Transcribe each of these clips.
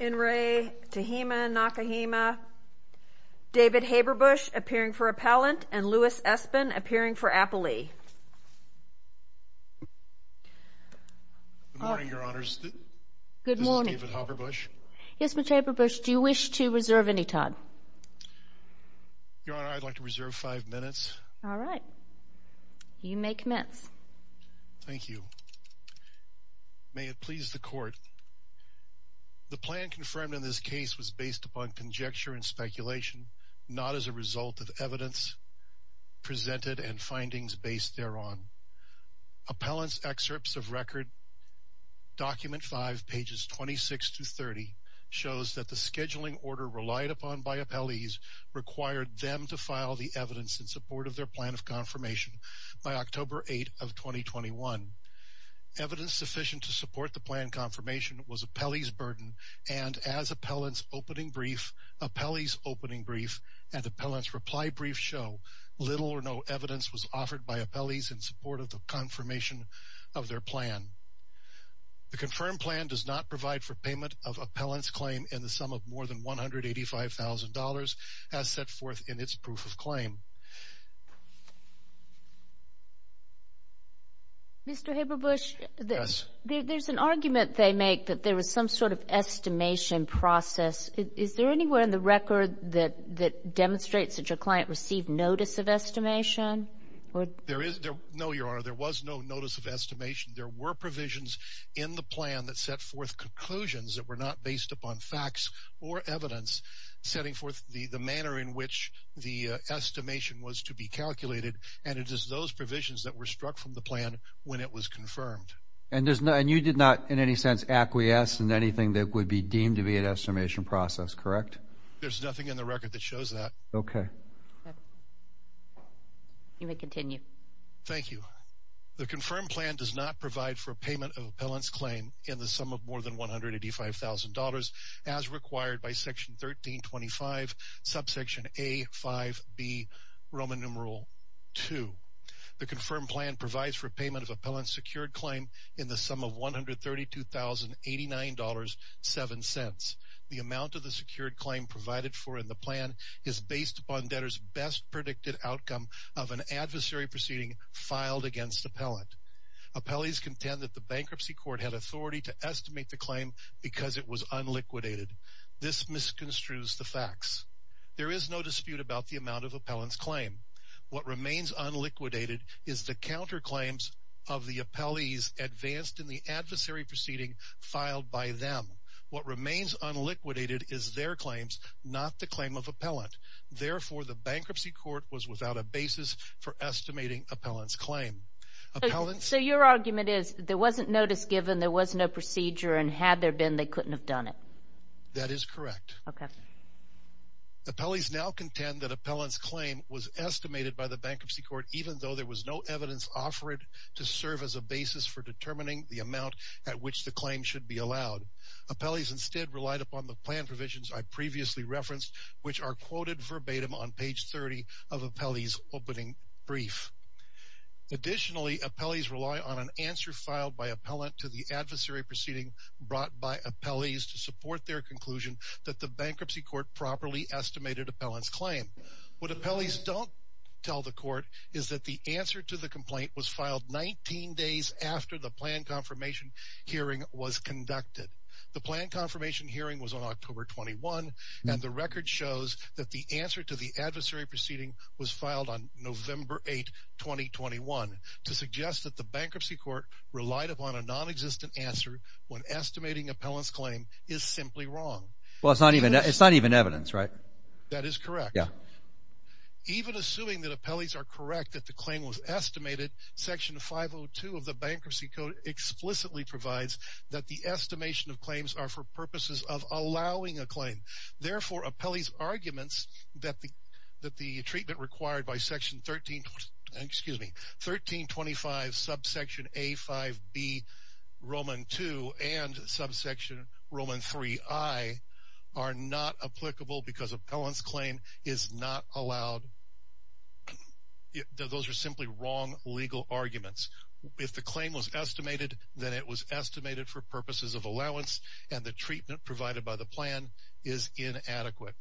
David Haberbusch appearing for appellant and Louis Espen appearing for appellee. Good morning, your honors. This is David Haberbusch. Yes, Mr. Haberbusch. Do you wish to reserve any time? Your honor, I'd like to reserve five minutes. All right. You may commence. Thank you. May it please the court. The plan confirmed in this case was based upon conjecture and speculation, not as a result of evidence presented and findings based thereon. Appellant's excerpts of Record Document 5, pages 26 to 30, shows that the scheduling order relied upon by appellees required them to file the evidence in support of their plan of confirmation by October 8 of 2021. Evidence sufficient to support the plan confirmation was appellee's burden, and as appellant's opening brief, appellee's opening brief, and appellant's reply brief show, little or no evidence was offered by appellees in support of the confirmation of their plan. The confirmed plan does not provide for payment of appellant's claim in the sum of more than $185,000 as set forth in its proof of claim. Mr. Haberbusch, there's an argument they make that there was some sort of estimation process. Is there anywhere in the record that demonstrates that your client received notice of estimation? No, your honor, there was no notice of estimation. There were provisions in the plan that set forth conclusions that were not based upon facts or evidence setting forth the manner in which the estimation was to be calculated, and it is those provisions that were struck from the plan when it was confirmed. And you did not in any sense acquiesce in anything that would be deemed to be an estimation process, correct? There's nothing in the record that shows that. Okay. You may continue. Thank you. The confirmed plan does not provide for payment of appellant's claim in the sum of more than $185,000 as required by section 1325, subsection A, 5B, Roman numeral 2. The confirmed plan provides for payment of appellant's secured claim in the sum of $132,089.07. The amount of the secured claim provided for in the plan is based upon debtor's best predicted outcome of an adversary proceeding filed against appellant. Appellees contend that the bankruptcy court had authority to estimate the claim because it was unliquidated. This misconstrues the facts. There is no dispute about the amount of appellant's claim. What remains unliquidated is the counterclaims of the appellees advanced in the adversary proceeding filed by them. What remains unliquidated is their claims, not the claim of appellant. Therefore, the bankruptcy court was without a basis for estimating appellant's claim. So your argument is there wasn't notice given, there was no procedure, and had there been, they couldn't have done it. That is correct. Okay. Appellees now contend that appellant's claim was estimated by the bankruptcy court even though there was no evidence offered to serve as a basis for determining the amount at which the claim should be allowed. Appellees instead relied upon the plan provisions I previously referenced, which are quoted verbatim on page 30 of appellee's opening brief. Additionally, appellees rely on an answer filed by appellant to the adversary proceeding brought by appellees to support their conclusion that the bankruptcy court properly estimated appellant's claim. What appellees don't tell the court is that the answer to the complaint was filed 19 days after the plan confirmation hearing was conducted. The plan confirmation hearing was on October 21, and the record shows that the answer to the adversary proceeding was filed on November 8, 2021 to suggest that the bankruptcy court relied upon a nonexistent answer when estimating appellant's claim is simply wrong. Well, it's not even evidence, right? That is correct. Yeah. Even assuming that appellees are correct that the claim was estimated, section 502 of the bankruptcy code explicitly provides that the estimation of claims are for purposes of allowing a claim. Therefore, appellee's arguments that the treatment required by section 1325, subsection A5B, Roman 2, and subsection Roman 3I are not applicable because appellant's claim is not allowed. Those are simply wrong legal arguments. If the claim was estimated, then it was estimated for purposes of allowance, and the treatment provided by the plan is inadequate.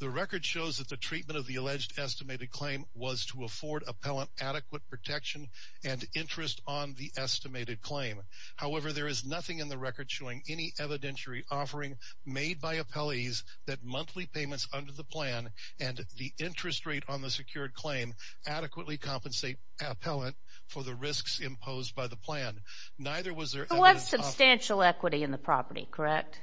The record shows that the treatment of the alleged estimated claim was to afford appellant adequate protection and interest on the estimated claim. However, there is nothing in the record showing any evidentiary offering made by appellees that monthly payments under the plan and the interest rate on the secured claim adequately compensate appellant for the risks imposed by the plan. There was substantial equity in the property, correct?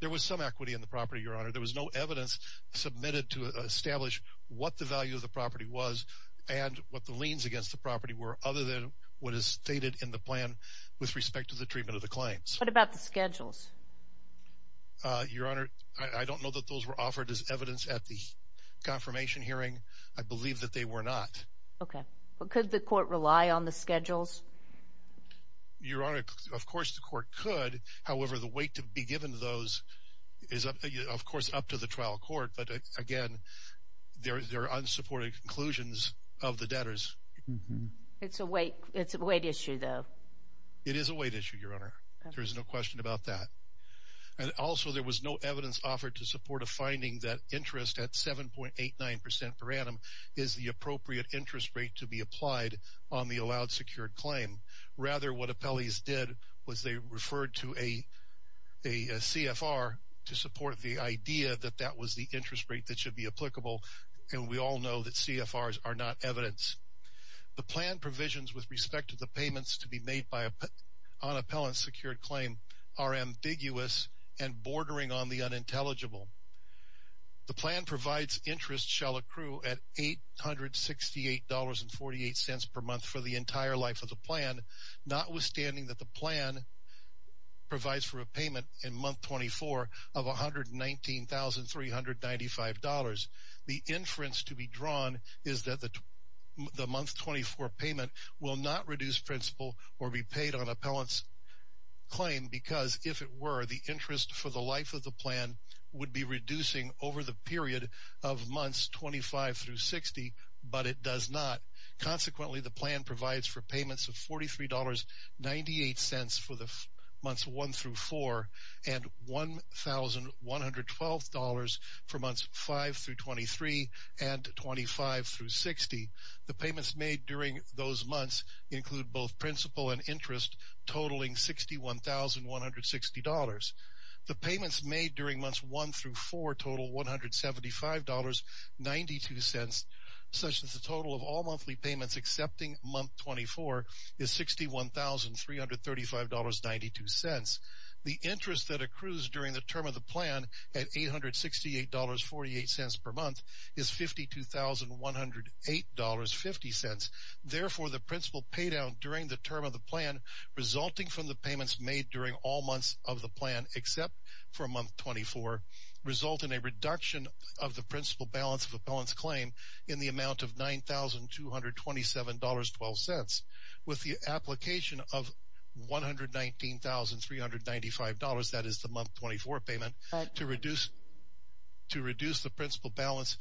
There was some equity in the property, Your Honor. There was no evidence submitted to establish what the value of the property was and what the liens against the property were, other than what is stated in the plan with respect to the treatment of the claims. What about the schedules? Your Honor, I don't know that those were offered as evidence at the confirmation hearing. I believe that they were not. Okay. Could the court rely on the schedules? Your Honor, of course the court could. However, the weight to be given to those is, of course, up to the trial court. But, again, there are unsupported conclusions of the debtors. It's a weight issue, though. It is a weight issue, Your Honor. There is no question about that. Also, there was no evidence offered to support a finding that interest at 7.89% per annum is the appropriate interest rate to be applied on the allowed secured claim. Rather, what appellees did was they referred to a CFR to support the idea that that was the interest rate that should be applicable, and we all know that CFRs are not evidence. The plan provisions with respect to the payments to be made by an unappellant secured claim are ambiguous and bordering on the unintelligible. The plan provides interest shall accrue at $868.48 per month for the entire life of the plan, notwithstanding that the plan provides for a payment in month 24 of $119,395. The inference to be drawn is that the month 24 payment will not reduce principal or be paid on appellant's claim because, if it were, the interest for the life of the plan would be reducing over the period of months 25 through 60, but it does not. Consequently, the plan provides for payments of $43.98 for the months 1 through 4 and $1,112 for months 5 through 23 and 25 through 60. The payments made during those months include both principal and interest, totaling $61,160. The payments made during months 1 through 4 total $175.92, such that the total of all monthly payments excepting month 24 is $61,335.92. The interest that accrues during the term of the plan at $868.48 per month is $52,108.50. Therefore, the principal paid out during the term of the plan, resulting from the payments made during all months of the plan except for month 24, result in a reduction of the principal balance of appellant's claim in the amount of $9,227.12 with the application of $119,395, that is the month 24 payment, to reduce the principal balance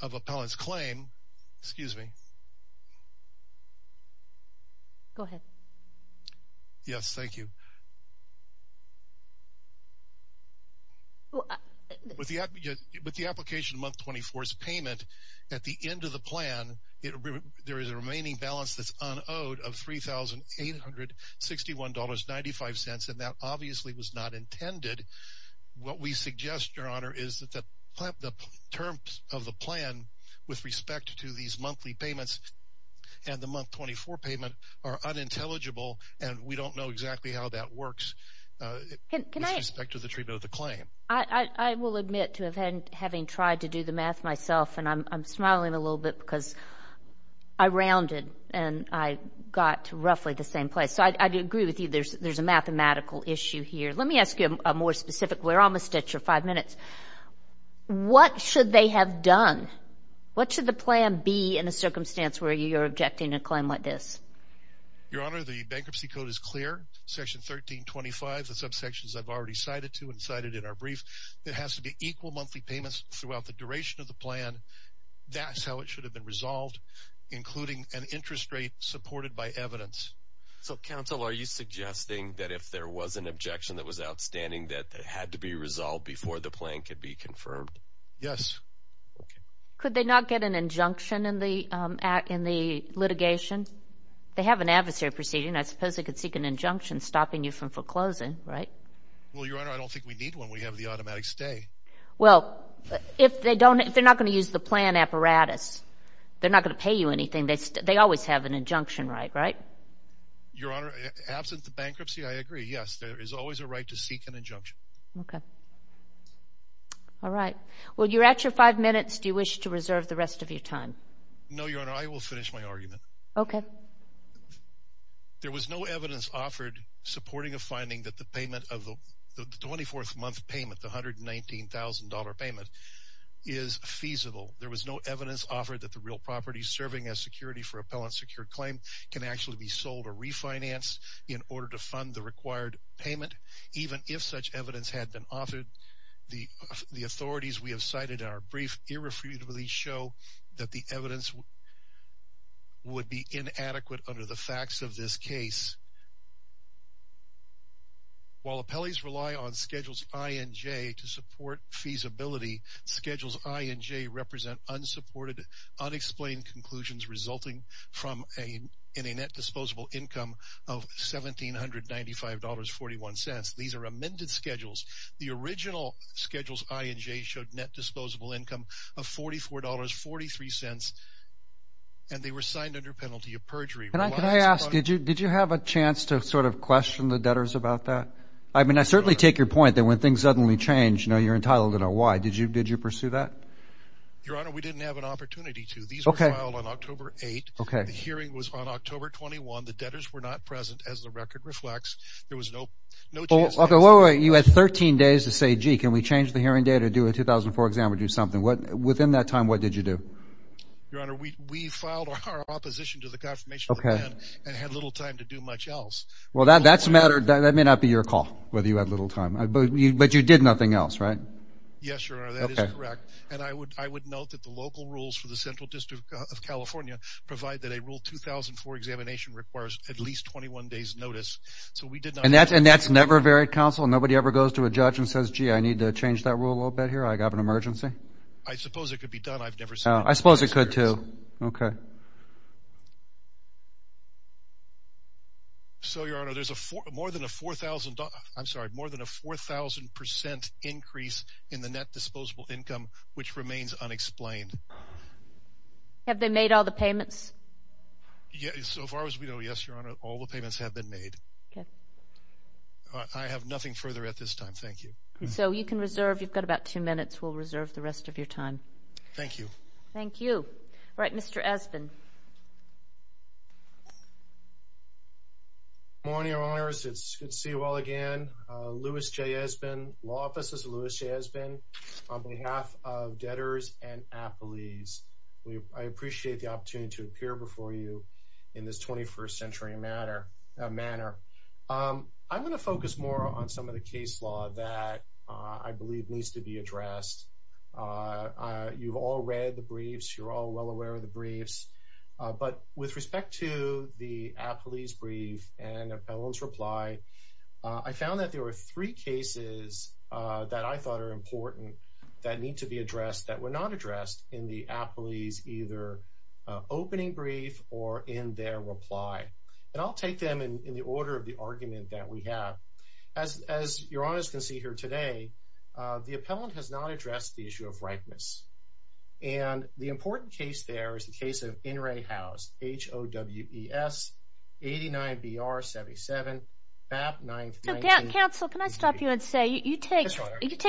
of appellant's claim. Excuse me. Go ahead. Yes, thank you. With the application of month 24's payment, at the end of the plan, there is a remaining balance that's unowed of $3,861.95, and that obviously was not intended. What we suggest, Your Honor, is that the terms of the plan with respect to these monthly payments and the month 24 payment are unintelligible, and we don't know exactly how that works with respect to the treatment of the claim. I will admit to having tried to do the math myself, and I'm smiling a little bit because I rounded and I got to roughly the same place. So I agree with you. There's a mathematical issue here. Let me ask you a more specific one. We're almost at your five minutes. What should they have done? What should the plan be in a circumstance where you're objecting to a claim like this? Your Honor, the bankruptcy code is clear. Section 1325, the subsections I've already cited to and cited in our brief, it has to be equal monthly payments throughout the duration of the plan. That's how it should have been resolved, including an interest rate supported by evidence. So, counsel, are you suggesting that if there was an objection that was outstanding that it had to be resolved before the plan could be confirmed? Yes. Could they not get an injunction in the litigation? They have an adversary proceeding. I suppose they could seek an injunction stopping you from foreclosing, right? Well, Your Honor, I don't think we need one. We have the automatic stay. Well, if they're not going to use the plan apparatus, they're not going to pay you anything. They always have an injunction right, right? Your Honor, absent the bankruptcy, I agree. Yes, there is always a right to seek an injunction. Okay. All right. Well, you're at your five minutes. Do you wish to reserve the rest of your time? No, Your Honor. I will finish my argument. Okay. There was no evidence offered supporting a finding that the payment of the 24th month payment, the $119,000 payment, is feasible. There was no evidence offered that the real property serving as security for appellant secured claim can actually be sold or refinanced in order to fund the required payment. Even if such evidence had been offered, the authorities we have cited in our brief irrefutably show that the evidence would be inadequate under the facts of this case. While appellees rely on Schedules I and J to support feasibility, Schedules I and J represent unsupported, unexplained conclusions resulting in a net disposable income of $1,795.41. These are amended schedules. The original Schedules I and J showed net disposable income of $44.43, and they were signed under penalty of perjury. Can I ask, did you have a chance to sort of question the debtors about that? I mean, I certainly take your point that when things suddenly change, you're entitled to know why. Did you pursue that? Your Honor, we didn't have an opportunity to. These were filed on October 8th. The hearing was on October 21. The debtors were not present, as the record reflects. There was no chance to answer that. You had 13 days to say, gee, can we change the hearing date or do a 2004 exam or do something. Within that time, what did you do? Your Honor, we filed our opposition to the confirmation of the plan and had little time to do much else. Well, that may not be your call, whether you had little time. But you did nothing else, right? Yes, Your Honor, that is correct. And I would note that the local rules for the Central District of California provide that a rule 2004 examination requires at least 21 days' notice. And that's never varied, counsel? Nobody ever goes to a judge and says, gee, I need to change that rule a little bit here. I have an emergency? I suppose it could be done. I've never seen it. I suppose it could, too. Okay. So, Your Honor, there's more than a 4,000 percent increase in the net disposable income, which remains unexplained. Have they made all the payments? So far as we know, yes, Your Honor, all the payments have been made. I have nothing further at this time. Thank you. So you can reserve. You've got about two minutes. We'll reserve the rest of your time. Thank you. Thank you. All right, Mr. Espin. Good morning, Your Honors. It's good to see you all again. Lewis J. Espin, Law Offices of Lewis J. Espin. On behalf of debtors and appellees, I appreciate the opportunity to appear before you in this 21st century manner. I'm going to focus more on some of the case law that I believe needs to be addressed. You've all read the briefs. You're all well aware of the briefs. But with respect to the appellee's brief and appellant's reply, I found that there were three cases that I thought are important that need to be addressed that were not addressed in the appellee's either opening brief or in their reply. And I'll take them in the order of the argument that we have. As Your Honors can see here today, the appellant has not addressed the issue of ripeness. And the important case there is the case of In re House, H-O-W-E-S-89-B-R-77-FAP-9-19-B-B. Counsel, can I stop you and say you take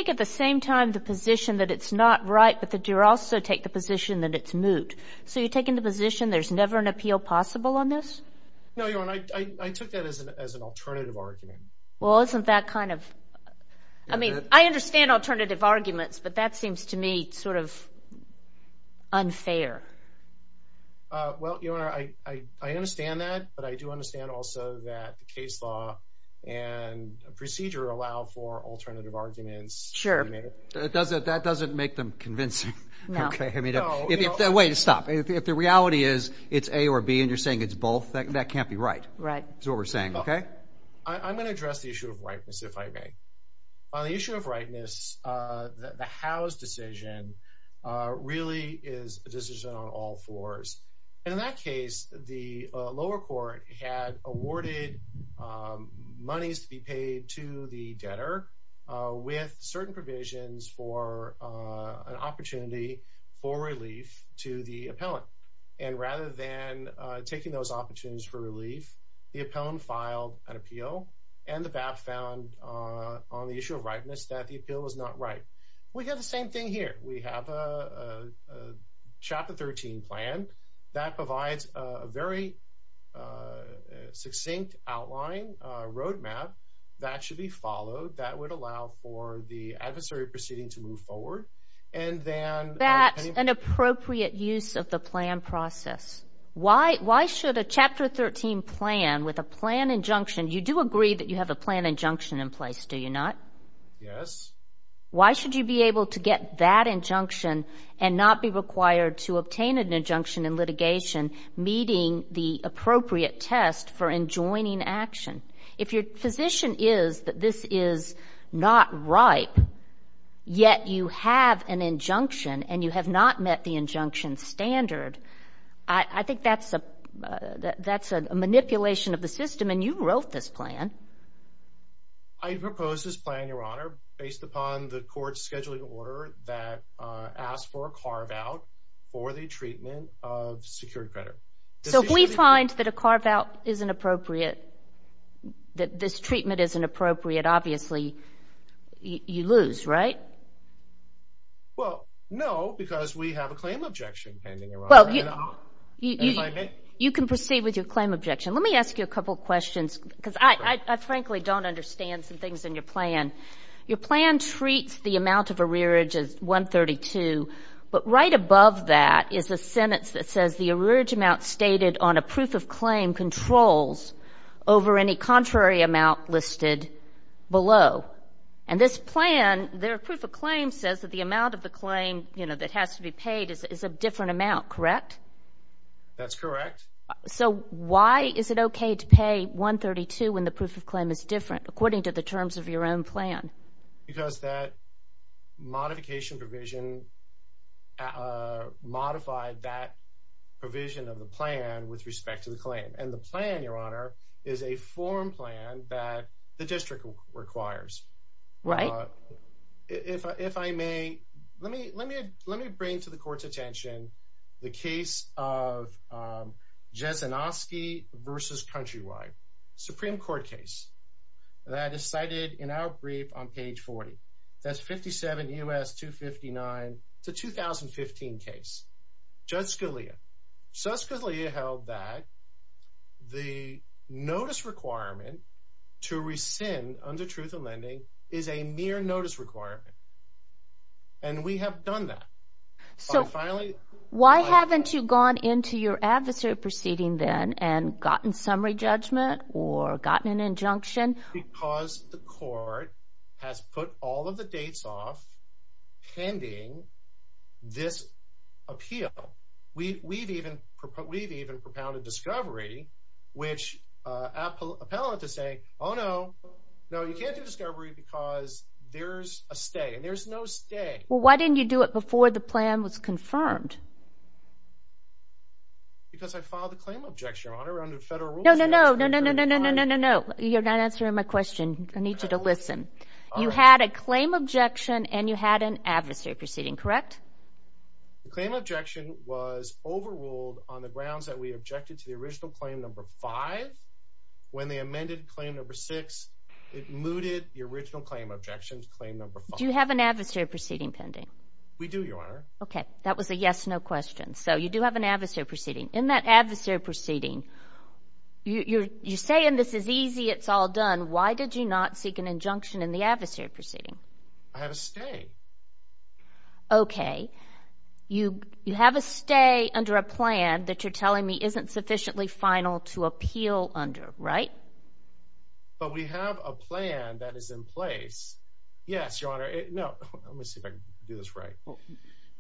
at the same time the position that it's not right, but that you also take the position that it's moot. So you're taking the position there's never an appeal possible on this? No, Your Honor. I took that as an alternative argument. Well, isn't that kind of – I mean, I understand alternative arguments, but that seems to me sort of unfair. Well, Your Honor, I understand that, but I do understand also that the case law and procedure allow for alternative arguments. Sure. That doesn't make them convincing. No. Wait, stop. If the reality is it's A or B and you're saying it's both, that can't be right. Right. That's what we're saying, okay? I'm going to address the issue of ripeness, if I may. On the issue of ripeness, the Howe's decision really is a decision on all fours. And in that case, the lower court had awarded monies to be paid to the debtor with certain provisions for an opportunity for relief to the appellant. And rather than taking those opportunities for relief, the appellant filed an appeal, and the BAP found on the issue of ripeness that the appeal was not right. We have the same thing here. We have a Chapter 13 plan that provides a very succinct outline, a roadmap, that should be followed that would allow for the adversary proceeding to move forward. Is that an appropriate use of the plan process? Yes. Why should a Chapter 13 plan with a plan injunction, you do agree that you have a plan injunction in place, do you not? Yes. Why should you be able to get that injunction and not be required to obtain an injunction in litigation meeting the appropriate test for enjoining action? and you have not met the injunction standard, I think that's a manipulation of the system, and you wrote this plan. I proposed this plan, Your Honor, based upon the court's scheduling order that asked for a carve-out for the treatment of secured credit. So if we find that a carve-out isn't appropriate, that this treatment isn't appropriate, obviously you lose, right? Well, no, because we have a claim objection pending, Your Honor. You can proceed with your claim objection. Let me ask you a couple of questions, because I frankly don't understand some things in your plan. Your plan treats the amount of arrearage as 132, but right above that is a sentence that says the arrearage amount stated on a proof of claim controls over any contrary amount listed below. And this plan, their proof of claim says that the amount of the claim that has to be paid is a different amount, correct? That's correct. So why is it okay to pay 132 when the proof of claim is different, according to the terms of your own plan? Because that modification provision modified that provision of the plan with respect to the claim. And the plan, Your Honor, is a form plan that the district requires. Right. If I may, let me bring to the Court's attention the case of Jezinoski v. Countrywide, Supreme Court case that is cited in our brief on page 40. That's 57 U.S. 259 to 2015 case. Judge Scalia. Judge Scalia held that the notice requirement to rescind under truth of lending is a mere notice requirement, and we have done that. So why haven't you gone into your adversary proceeding then and gotten summary judgment or gotten an injunction? Because the Court has put all of the dates off pending this appeal. We've even propounded discovery, which appellate to say, oh, no, no, you can't do discovery because there's a stay, and there's no stay. Well, why didn't you do it before the plan was confirmed? Because I filed a claim objection, Your Honor, under federal rules. No, no, no, no, no, no, no, no, no, no. You're not answering my question. I need you to listen. You had a claim objection, and you had an adversary proceeding, correct? The claim objection was overruled on the grounds that we objected to the original claim number five. When they amended claim number six, it mooted the original claim objection to claim number five. Do you have an adversary proceeding pending? We do, Your Honor. Okay. That was a yes-no question. So you do have an adversary proceeding. In that adversary proceeding, you're saying this is easy, it's all done. Why did you not seek an injunction in the adversary proceeding? I have a stay. Okay. You have a stay under a plan that you're telling me isn't sufficiently final to appeal under, right? But we have a plan that is in place. Yes, Your Honor. No, let me see if I can do this right.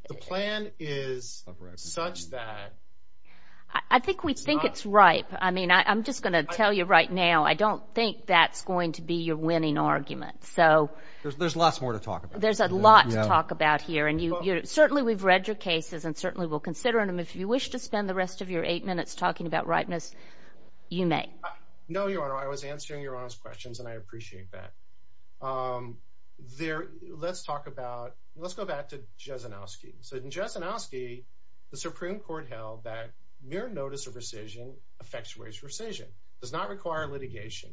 The plan is such that... I think we think it's ripe. I mean, I'm just going to tell you right now, I don't think that's going to be your winning argument. There's lots more to talk about. There's a lot to talk about here, and certainly we've read your cases and certainly will consider them. If you wish to spend the rest of your eight minutes talking about ripeness, you may. No, Your Honor. I was answering Your Honor's questions, and I appreciate that. Let's go back to Jasanowski. So in Jasanowski, the Supreme Court held that mere notice of rescission effectuates rescission. It does not require litigation.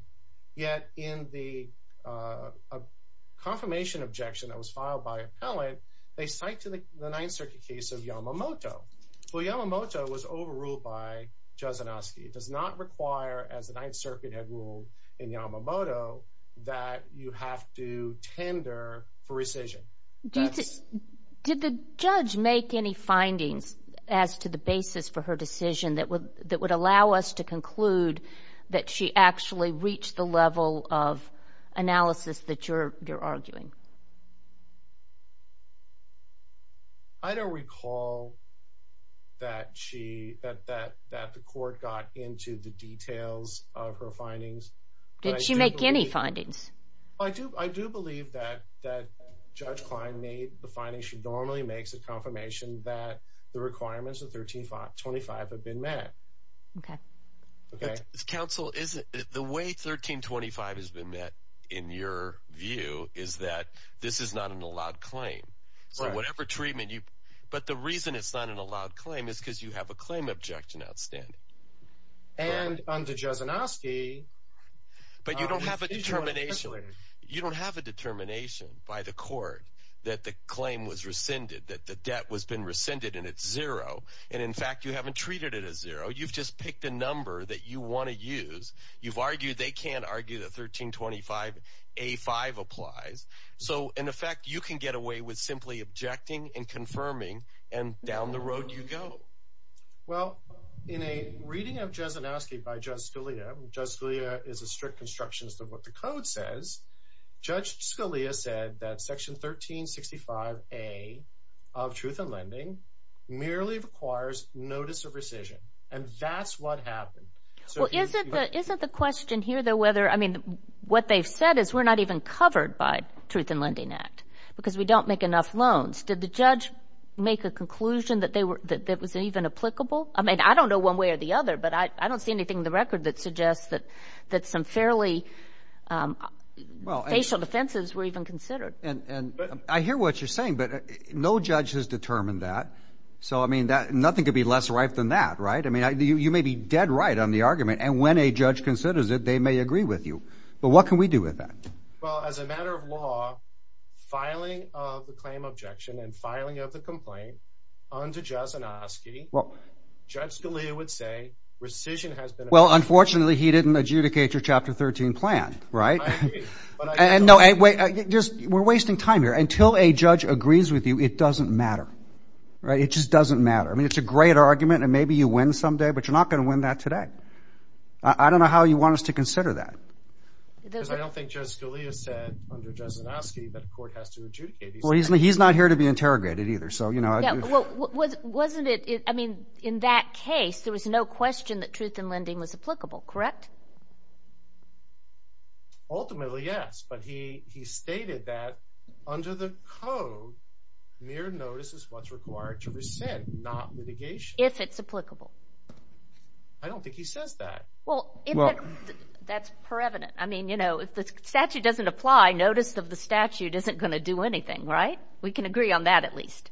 Yet in the confirmation objection that was filed by an appellant, they cite the Ninth Circuit case of Yamamoto. Well, Yamamoto was overruled by Jasanowski. It does not require, as the Ninth Circuit had ruled in Yamamoto, that you have to tender for rescission. Did the judge make any findings as to the basis for her decision that would allow us to conclude that she actually reached the level of analysis that you're arguing? I don't recall that the court got into the details of her findings. Did she make any findings? I do believe that Judge Klein made the findings. She normally makes a confirmation that the requirements of 1325 have been met. Okay. Counsel, the way 1325 has been met, in your view, is that this is not an allowed claim. So whatever treatment you – but the reason it's not an allowed claim is because you have a claim objection outstanding. And under Jasanowski – But you don't have a determination. You don't have a determination by the court that the claim was rescinded, that the debt has been rescinded and it's zero. And, in fact, you haven't treated it as zero. You've just picked a number that you want to use. You've argued they can't argue that 1325A5 applies. So, in effect, you can get away with simply objecting and confirming, and down the road you go. Well, in a reading of Jasanowski by Judge Scalia – and Judge Scalia is a strict constructionist of what the code says – Judge Scalia said that Section 1365A of Truth in Lending merely requires notice of rescission, and that's what happened. Well, isn't the question here, though, whether – I mean, what they've said is we're not even covered by Truth in Lending Act because we don't make enough loans. Did the judge make a conclusion that was even applicable? I mean, I don't know one way or the other, but I don't see anything in the record that suggests that some fairly – facial defenses were even considered. And I hear what you're saying, but no judge has determined that. So, I mean, nothing could be less right than that, right? I mean, you may be dead right on the argument, and when a judge considers it, they may agree with you. But what can we do with that? Well, as a matter of law, filing of the claim objection and filing of the complaint under Jasinovsky, Judge Scalia would say rescission has been – Well, unfortunately, he didn't adjudicate your Chapter 13 plan, right? I agree. And no, wait, we're wasting time here. Until a judge agrees with you, it doesn't matter, right? It just doesn't matter. I mean, it's a great argument, and maybe you win someday, but you're not going to win that today. I don't know how you want us to consider that. Because I don't think Judge Scalia said under Jasinovsky that a court has to adjudicate these things. Well, he's not here to be interrogated either. Yeah, well, wasn't it – I mean, in that case, there was no question that truth in lending was applicable, correct? Ultimately, yes, but he stated that under the code, mere notice is what's required to rescind, not litigation. If it's applicable. I don't think he says that. Well, that's prevalent. I mean, you know, if the statute doesn't apply, notice of the statute isn't going to do anything, right? We can agree on that at least.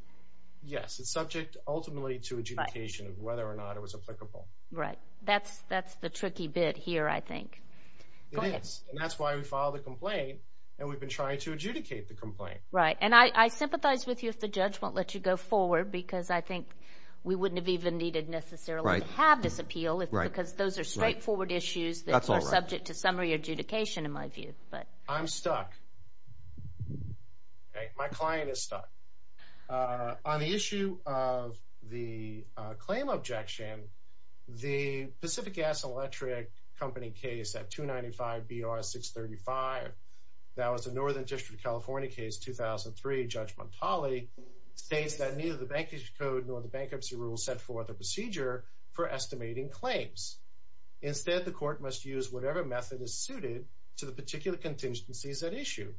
Yes, it's subject ultimately to adjudication of whether or not it was applicable. Right. That's the tricky bit here, I think. It is, and that's why we filed the complaint, and we've been trying to adjudicate the complaint. Right, and I sympathize with you if the judge won't let you go forward because I think we wouldn't have even needed necessarily to have this appeal because those are straightforward issues that are subject to summary adjudication, in my view. I'm stuck. My client is stuck. On the issue of the claim objection, the Pacific Gas and Electric Company case at 295 BR 635, that was a Northern District of California case, 2003, Judge Montali, states that neither the Bankruptcy Code nor the bankruptcy rule was set forth a procedure for estimating claims. Instead, the court must use whatever method is suited to the particular contingencies at issue,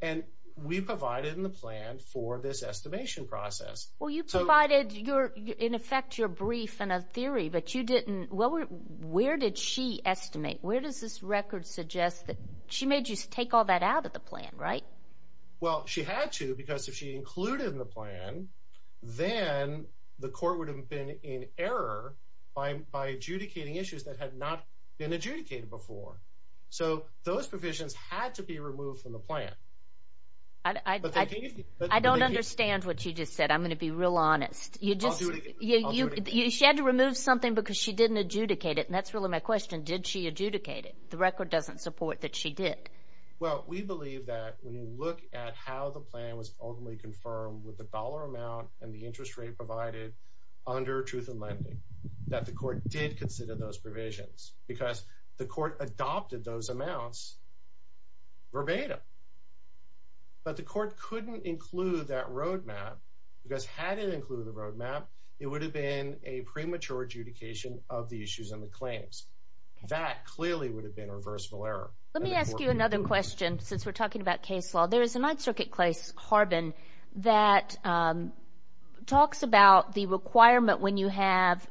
and we provided in the plan for this estimation process. Well, you provided, in effect, your brief and a theory, but you didn't – where did she estimate? Where does this record suggest that – she made you take all that out of the plan, right? Well, she had to because if she included it in the plan, then the court would have been in error by adjudicating issues that had not been adjudicated before. So those provisions had to be removed from the plan. I don't understand what you just said. I'm going to be real honest. She had to remove something because she didn't adjudicate it, and that's really my question. Did she adjudicate it? The record doesn't support that she did. Well, we believe that when you look at how the plan was ultimately confirmed with the dollar amount and the interest rate provided under Truth in Lending, that the court did consider those provisions because the court adopted those amounts verbatim. But the court couldn't include that roadmap because had it included the roadmap, it would have been a premature adjudication of the issues and the claims. That clearly would have been a reversible error. Let me ask you another question since we're talking about case law. There is a Ninth Circuit case, Harbin, that talks about the requirement when you have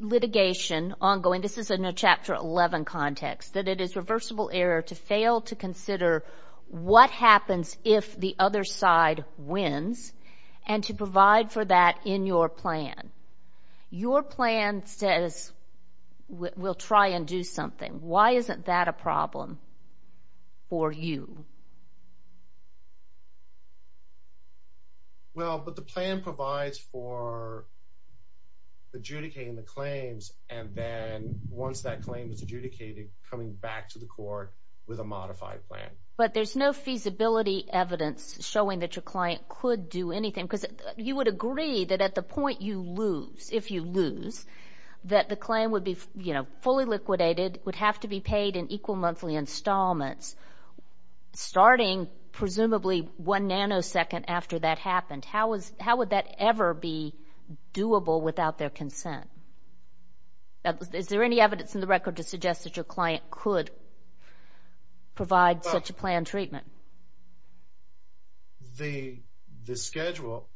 litigation ongoing, this is in a Chapter 11 context, that it is reversible error to fail to consider what happens if the other side wins and to provide for that in your plan. Your plan says we'll try and do something. Why isn't that a problem for you? Well, but the plan provides for adjudicating the claims and then once that claim is adjudicated, coming back to the court with a modified plan. But there's no feasibility evidence showing that your client could do anything because you would agree that at the point you lose, if you lose, that the claim would be fully liquidated, would have to be paid in equal monthly installments, starting presumably one nanosecond after that happened. How would that ever be doable without their consent? Is there any evidence in the record to suggest that your client could provide such a planned treatment? The schedule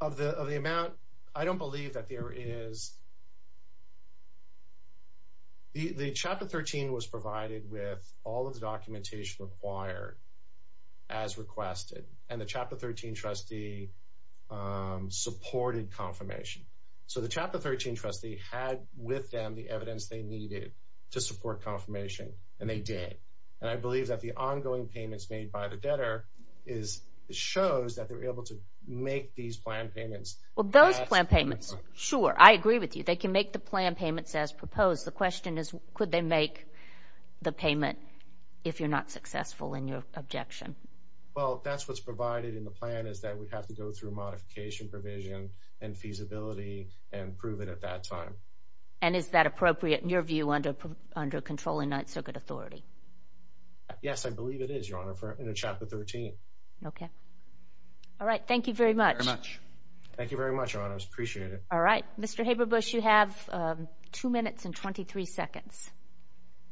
of the amount, I don't believe that there is. The Chapter 13 was provided with all of the documentation required as requested and the Chapter 13 trustee supported confirmation. So the Chapter 13 trustee had with them the evidence they needed to support confirmation and they did. And I believe that the ongoing payments made by the debtor shows that they were able to make these planned payments. Well, those planned payments, sure, I agree with you. They can make the planned payments as proposed. The question is, could they make the payment if you're not successful in your objection? Well, that's what's provided in the plan, is that we have to go through modification provision and feasibility and prove it at that time. And is that appropriate in your view under controlling Ninth Circuit authority? Yes, I believe it is, Your Honor, in Chapter 13. Okay. All right. Thank you very much. Thank you very much, Your Honor. I appreciate it. All right. Mr. Haberbusch, you have 2 minutes and 23 seconds.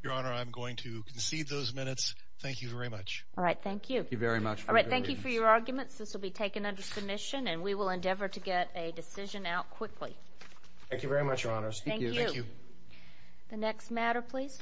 Your Honor, I'm going to concede those minutes. Thank you very much. All right. Thank you. Thank you very much. All right. Thank you for your arguments. This will be taken under submission and we will endeavor to get a decision out quickly. Thank you very much, Your Honor. Thank you. Thank you. The next matter, please.